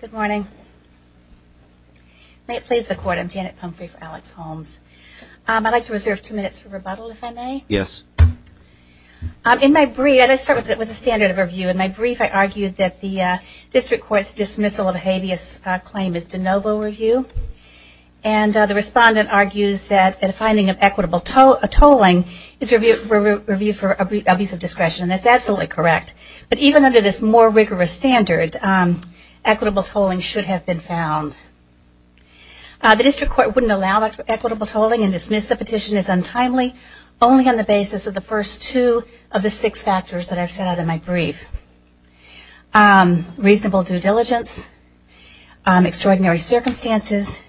Good morning. May it please the court, I'm Janet Pumphrey for Alex Holmes. I'd like to start with a standard of review. In my brief I argued that the district court's dismissal of a habeas claim is de novo review. And the respondent argues that a finding of equitable tolling is reviewed for abuse of discretion. That's absolutely correct. But even under this more rigorous standard, equitable tolling should have been found. The district court wouldn't allow equitable tolling and dismiss the petition as untimely only on the basis of the first two of the six factors that I've set out in my brief. Reasonable due diligence, extraordinary circumstances.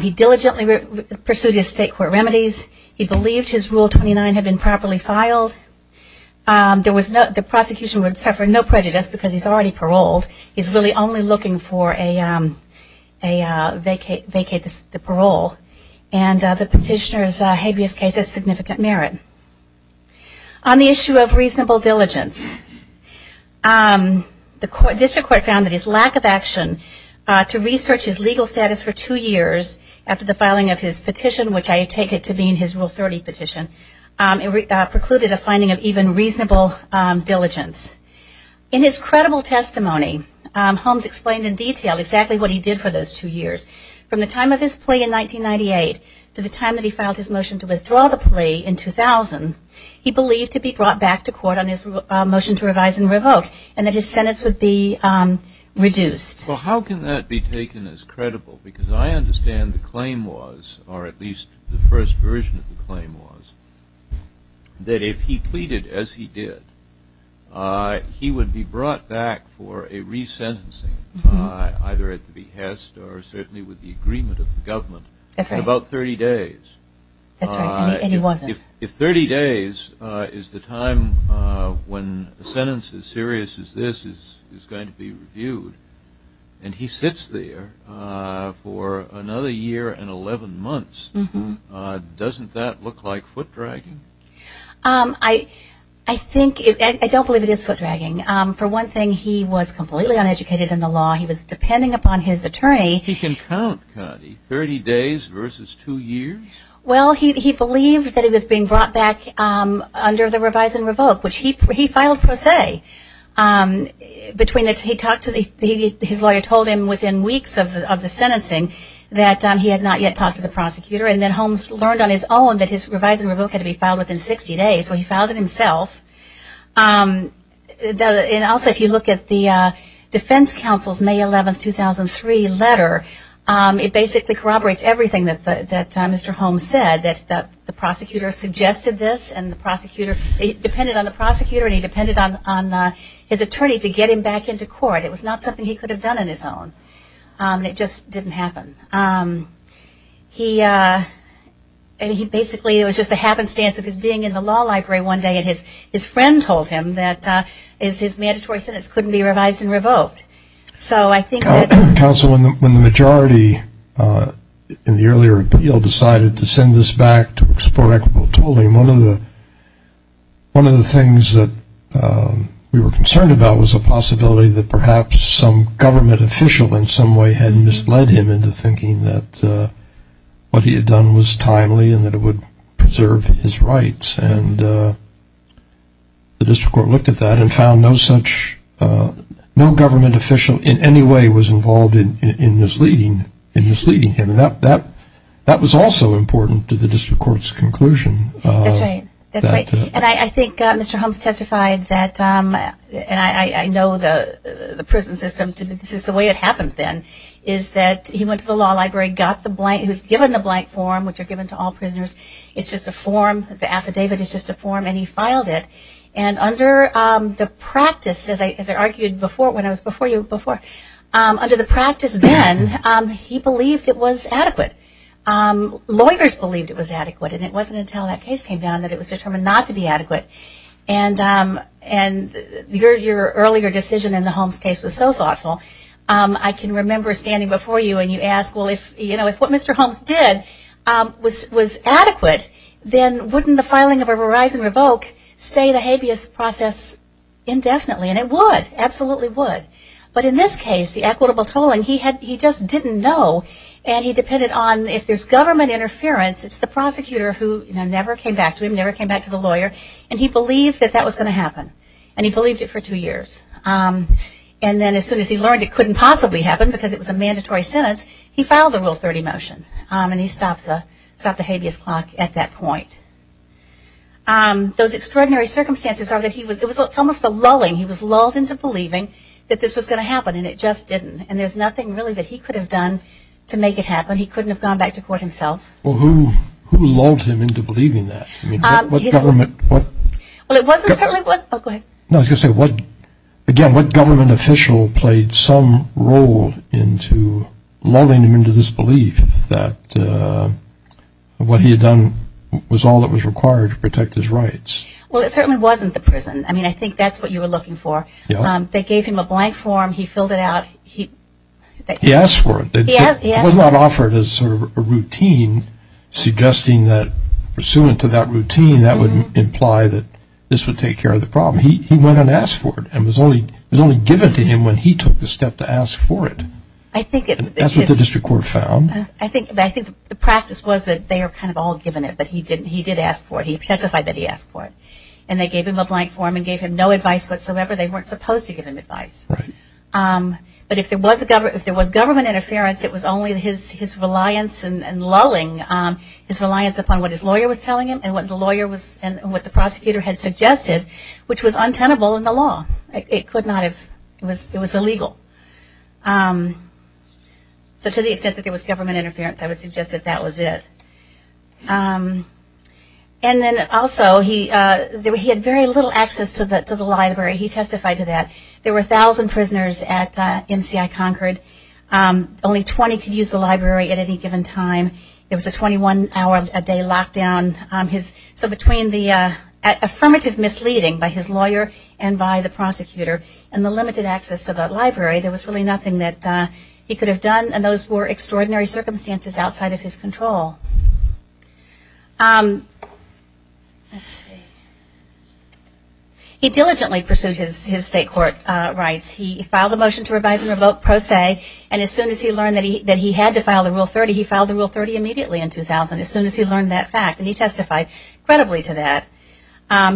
He diligently pursued his state court remedies. He believed his rule 29 had been properly filed. There was no, the prosecution would suffer no prejudice because he's already paroled. He's really only looking for a, a vacate, vacate the parole. And the petitioner's habeas case has significant merit. On the issue of reasonable diligence, the district court found that his lack of action to research his legal status for two years after the filing of his petition, which I take it to mean his rule 30 petition, precluded a finding of even reasonable diligence. In his credible testimony, Holmes explained in 1998 to the time that he filed his motion to withdraw the plea in 2000, he believed to be brought back to court on his motion to revise and revoke and that his sentence would be reduced. Well, how can that be taken as credible? Because I understand the claim was, or at least the first version of the claim was, that if he pleaded as he did, he would be brought back for a resentencing, either at the behest or certainly with the agreement of the government. That's right. In about 30 days. That's right, and he wasn't. If 30 days is the time when a sentence as serious as this is going to be reviewed, and he sits there for another year and 11 months, doesn't that look like foot dragging? I think, I don't believe it is foot dragging. For one thing, he was completely uneducated in the law. He was depending upon his attorney. He can count, Connie, 30 days versus 2 years? Well, he believed that he was being brought back under the revise and revoke, which he filed per se. His lawyer told him within weeks of the sentencing that he had not yet talked to the prosecutor, and then Holmes learned on his own that his revise and revoke had to be filed within 60 days, so he filed it himself. Also, if you look at the defense counsel's May 11, 2003 letter, it basically corroborates everything that Mr. Holmes said, that the prosecutor suggested this and the prosecutor, he depended on the prosecutor and he depended on his attorney to get him back into court. It was not something he could have done on his own. It just didn't happen. He basically, it was just a happenstance of his being in the law library one day, and his friend told him that his mandatory sentence couldn't be revised and revoked. So I think that... Counsel, when the majority in the earlier appeal decided to send this back to explore equitable tooling, one of the things that we were concerned about was the possibility that perhaps some government official in some way had misled him into thinking that what he had done was timely and that it would preserve his rights. The district court looked at that and found no such, no government official in any way was involved in misleading him. That was also important to the district court's conclusion. That's right. And I think Mr. Holmes, the prison system, this is the way it happened then, is that he went to the law library, got the blank, he was given the blank form, which are given to all prisoners, it's just a form, the affidavit is just a form, and he filed it. And under the practice, as I argued before, when I was before you before, under the practice then, he believed it was adequate. Lawyers believed it was adequate and it wasn't until that case came down that it was determined not to be adequate. And your earlier decision in the Holmes case was so thoughtful, I can remember standing before you and you asked, well, if what Mr. Holmes did was adequate, then wouldn't the filing of a Verizon revoke say the habeas process indefinitely? And it would, absolutely would. But in this case, the equitable tooling, he just didn't know and he depended on, if there's government interference, it's the prosecutor who never came back to him, never came back to the lawyer, and he believed that that was going to happen. And he believed it for two years. And then as soon as he learned it couldn't possibly happen because it was a mandatory sentence, he filed the Rule 30 motion and he stopped the habeas clock at that point. Those extraordinary circumstances are that he was, it was almost a lulling, he was lulled into believing that this was going to happen and it just didn't. And there's nothing really that he could have done to make it happen. He couldn't have gone back to court himself. Well, who, who lulled him into believing that? Um, his... What government, what... Well, it wasn't, certainly it wasn't... Oh, go ahead. No, I was going to say, what, again, what government official played some role into lulling him into this belief that what he had done was all that was required to protect his rights? Well, it certainly wasn't the prison. I mean, I think that's what you were looking for. Yeah. They gave him a blank form. He filled it out. He... He asked for it. He asked for it. But he did not offer it as sort of a routine, suggesting that pursuant to that routine, that would imply that this would take care of the problem. He, he went and asked for it and was only, was only given to him when he took the step to ask for it. I think it... That's what the district court found. I think, I think the practice was that they are kind of all given it, but he didn't, he did ask for it. He testified that he asked for it. And they gave him a blank form and gave him no advice whatsoever. They weren't supposed to give him advice. Right. But if there was a government, if there was government interference, it was only his, his reliance and, and lulling, his reliance upon what his lawyer was telling him and what the lawyer was, and what the prosecutor had suggested, which was untenable in the law. It could not have, it was, it was illegal. So to the extent that there was government interference, I would suggest that that was it. And then also, he, he had very little access to the, to the library. He testified to that. There were a thousand prisoners at MCI Concord. Only 20 could use the library at any given time. It was a 21 hour a day lockdown. His... So between the affirmative misleading by his lawyer and by the prosecutor, and the limited access to the library, there was really nothing that he could have done. And those were extraordinary circumstances outside of his control. Let's see. He diligently pursued his, his state court rights. He filed a motion to revise and revoke pro se, and as soon as he learned that he, that he had to file the Rule 30, he filed the Rule 30 immediately in 2000, as soon as he learned that fact, and he testified credibly to that.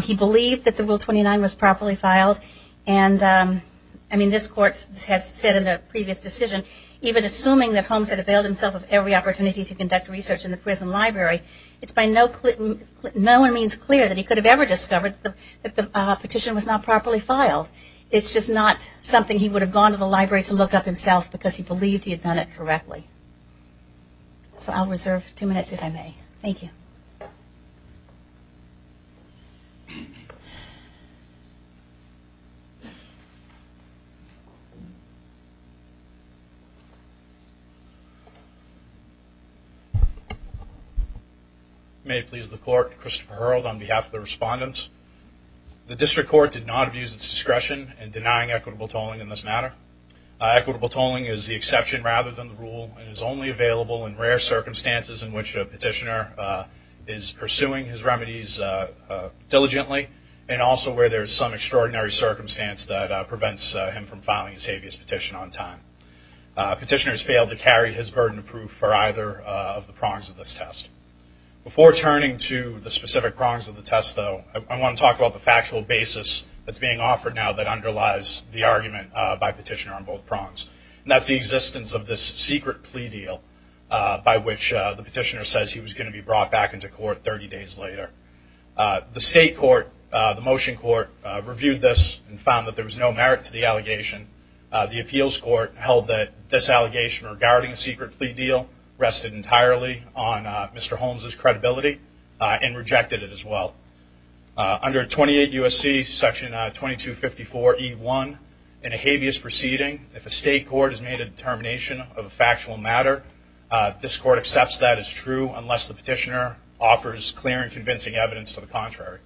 He believed that the Rule 29 was properly filed, and I mean, this court has said in the previous decision, even assuming that Holmes had availed himself of every opportunity to conduct research in the prison library, it's by no, no one means clear that he could have ever discovered that the petition was not properly filed. It's just not something he would have gone to the library to look up himself because he believed he had done it correctly. So I'll reserve two minutes if I may. Thank you. May it please the court, Christopher Hurrell on behalf of the respondents. The district court did not abuse its discretion in denying equitable tolling in this matter. Equitable tolling is the exception rather than the rule and is only available in rare circumstances in which a petitioner is pursuing his remedies diligently and also where there is some extraordinary circumstance that prevents him from filing his habeas petition on time. Petitioners fail to carry his burden of proof for either of the prongs of this test. Before turning to the specific prongs of the test, though, I want to talk about the factual basis that's being offered now that underlies the argument by petitioner on both prongs. That's the existence of this secret plea deal by which the petitioner says he was going to be brought back into court 30 days later. The state court, the motion court, reviewed this and found that there was no merit to the allegation. The appeals court held that this allegation regarding the secret plea deal rested entirely on Mr. Holmes' credibility and rejected it as well. Under 28 U.S.C. section 2254E1, in a habeas proceeding, if a state court has made a determination of a factual matter, this court accepts that as true unless the petitioner offers clear and convincing evidence to the contrary.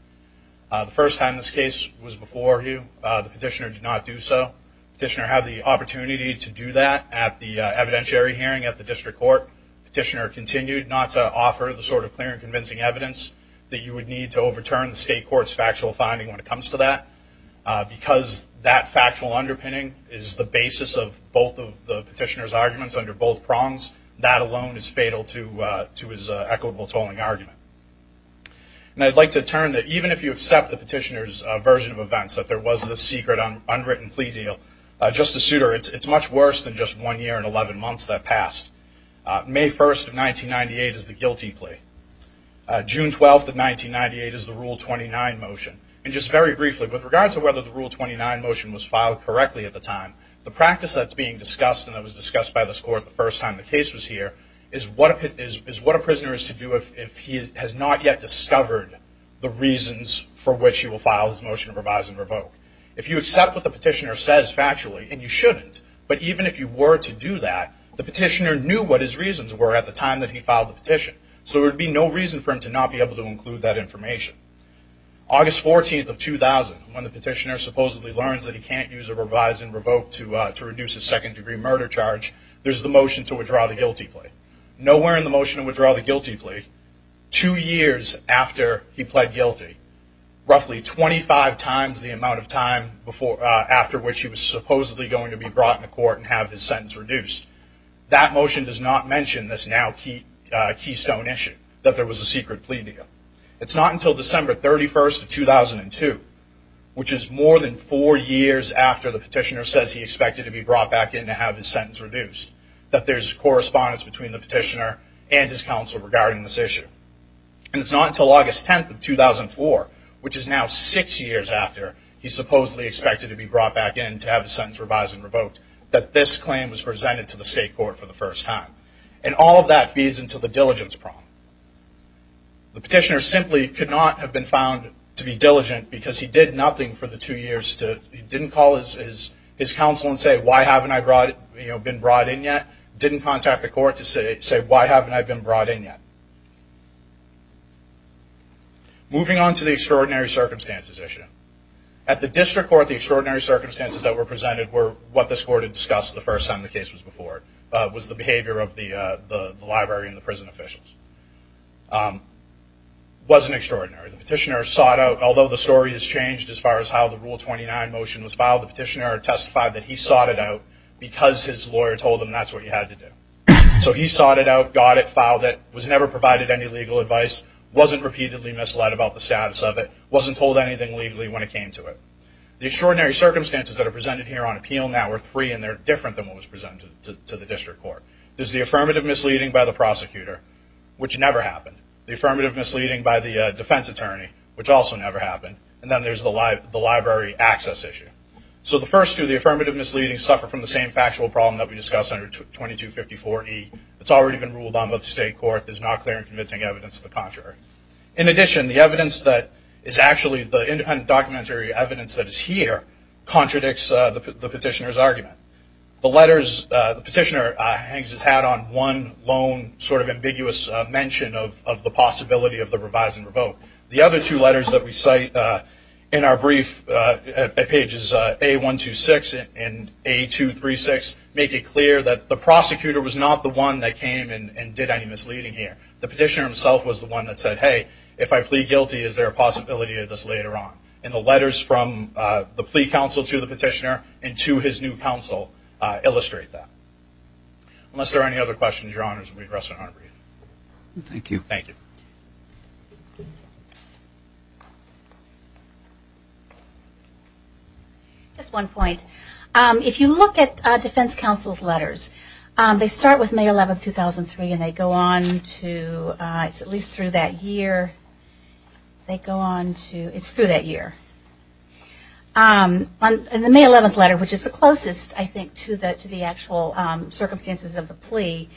The first time this case was before you, the petitioner did not do so. The petitioner had the opportunity to do that at the evidentiary hearing at the district court. The petitioner continued not to offer the sort of clear and convincing evidence that you would need to overturn the state court's factual finding when it comes to that. Because that factual underpinning is the basis of both of the petitioner's arguments under both prongs, that alone is fatal to his equitable tolling argument. And I'd like to turn that even if you accept the petitioner's version of events that there was a secret, unwritten plea deal, Justice Souter, it's much worse than just one year and 11 months that passed. May 1st of 1998 is the guilty plea. June 12th of 1998 is the Rule 29 motion. And just very briefly, with regard to whether the Rule 29 motion was filed correctly at the time, the practice that's being discussed and that was discussed by this court the first time the case was here, is what a prisoner is to do if he has not yet discovered the reasons for which he will file his motion to revise and revoke. If you accept what the petitioner says factually, and you shouldn't, but even if you were to do that, the petitioner knew what his reasons were at the time that he filed the petition. So there would be no reason for him to not be able to include that information. August 14th of 2000, when the petitioner supposedly learns that he can't use a revise and revoke to reduce his second-degree murder charge, there's the motion to withdraw the guilty plea. Nowhere in the motion would he withdraw the guilty plea two years after he pled guilty, roughly 25 times the amount of time after which he was supposedly going to be brought into court and have his sentence reduced. That motion does not mention this now keystone issue, that there was a secret plea deal. It's not until December 31st of 2002, which is more than four years after the petitioner says he expected to be brought back in to have his sentence reduced, that there's correspondence between the petitioner and his counsel regarding this issue. And it's not until August 10th of 2004, which is now six years after he supposedly expected to be brought back in to have his sentence revised and revoked, that this claim was presented to the state court for the first time. And all of that feeds into the diligence problem. The petitioner simply could not have been found to be diligent because he did nothing for the two years. He didn't call his counsel and say, why haven't I been brought in yet? Didn't contact the court to say, why haven't I been brought in yet? Moving on to the extraordinary circumstances issue. At the district court, the extraordinary circumstances that were presented were what this court had discussed the first time the case was before. Was the behavior of the library and the prison officials. Wasn't extraordinary. The petitioner sought out, although the story has changed as far as how the Rule 29 motion was filed, the petitioner testified that he sought it out because his lawyer told him that's what you had to do. So he sought it out, got it, filed it, was never provided any legal advice, wasn't repeatedly misled about the status of it, wasn't told anything legally when it came to it. The extraordinary circumstances that are presented here on appeal now are three, and they're different than what was presented to the district court. Is the affirmative misleading by the prosecutor, which never happened. The affirmative misleading by the defense attorney, which also never happened. And then there's the library access issue. So the first two, the affirmative misleading, suffer from the same factual problem that we discussed under 2254E. It's already been ruled on by the state court, there's not clear and convincing evidence to the contrary. In addition, the evidence that is actually, the independent documentary evidence that is here, contradicts the petitioner's argument. The letters the petitioner has had on one lone sort of ambiguous mention of the possibility of the revise and revoke. The other two letters that we cite in our brief at pages A126 and A236 make it clear that the prosecutor was not the one that came and did any misleading here. The petitioner himself was the one that said, hey, if I plead guilty, is there a possibility of this later on? And the letters from the plea counsel to the petitioner and to his new counsel illustrate that. Unless there are any other questions, your honors, we rest our honor brief. Thank you. Thank you. Just one point. If you look at defense counsel's letters, they start with May 11, 2003, and they go on to, it's at least through that year. They go on to, it's through that year. In the May 11th letter, which is the closest, I think, to the actual circumstances of the plea,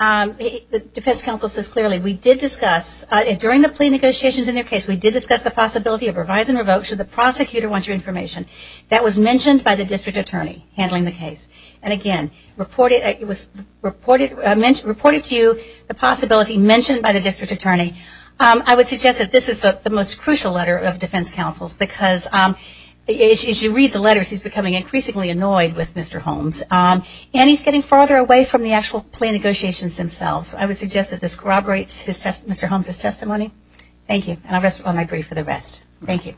the defense counsel says clearly, we did discuss, during the plea negotiations in their case, we did discuss the possibility of revise and revoke should the prosecutor want your information. That was mentioned by the district attorney handling the case. And again, reported to you, the possibility mentioned by the district attorney. I would suggest that this is the most crucial letter of defense counsel's, because as you read the letters, he's becoming increasingly annoyed with Mr. Holmes, and he's getting farther away from the actual plea negotiations themselves. I would suggest that this corroborates Mr. Holmes' testimony. Thank you. And I'll rest my brief with the rest. Thank you.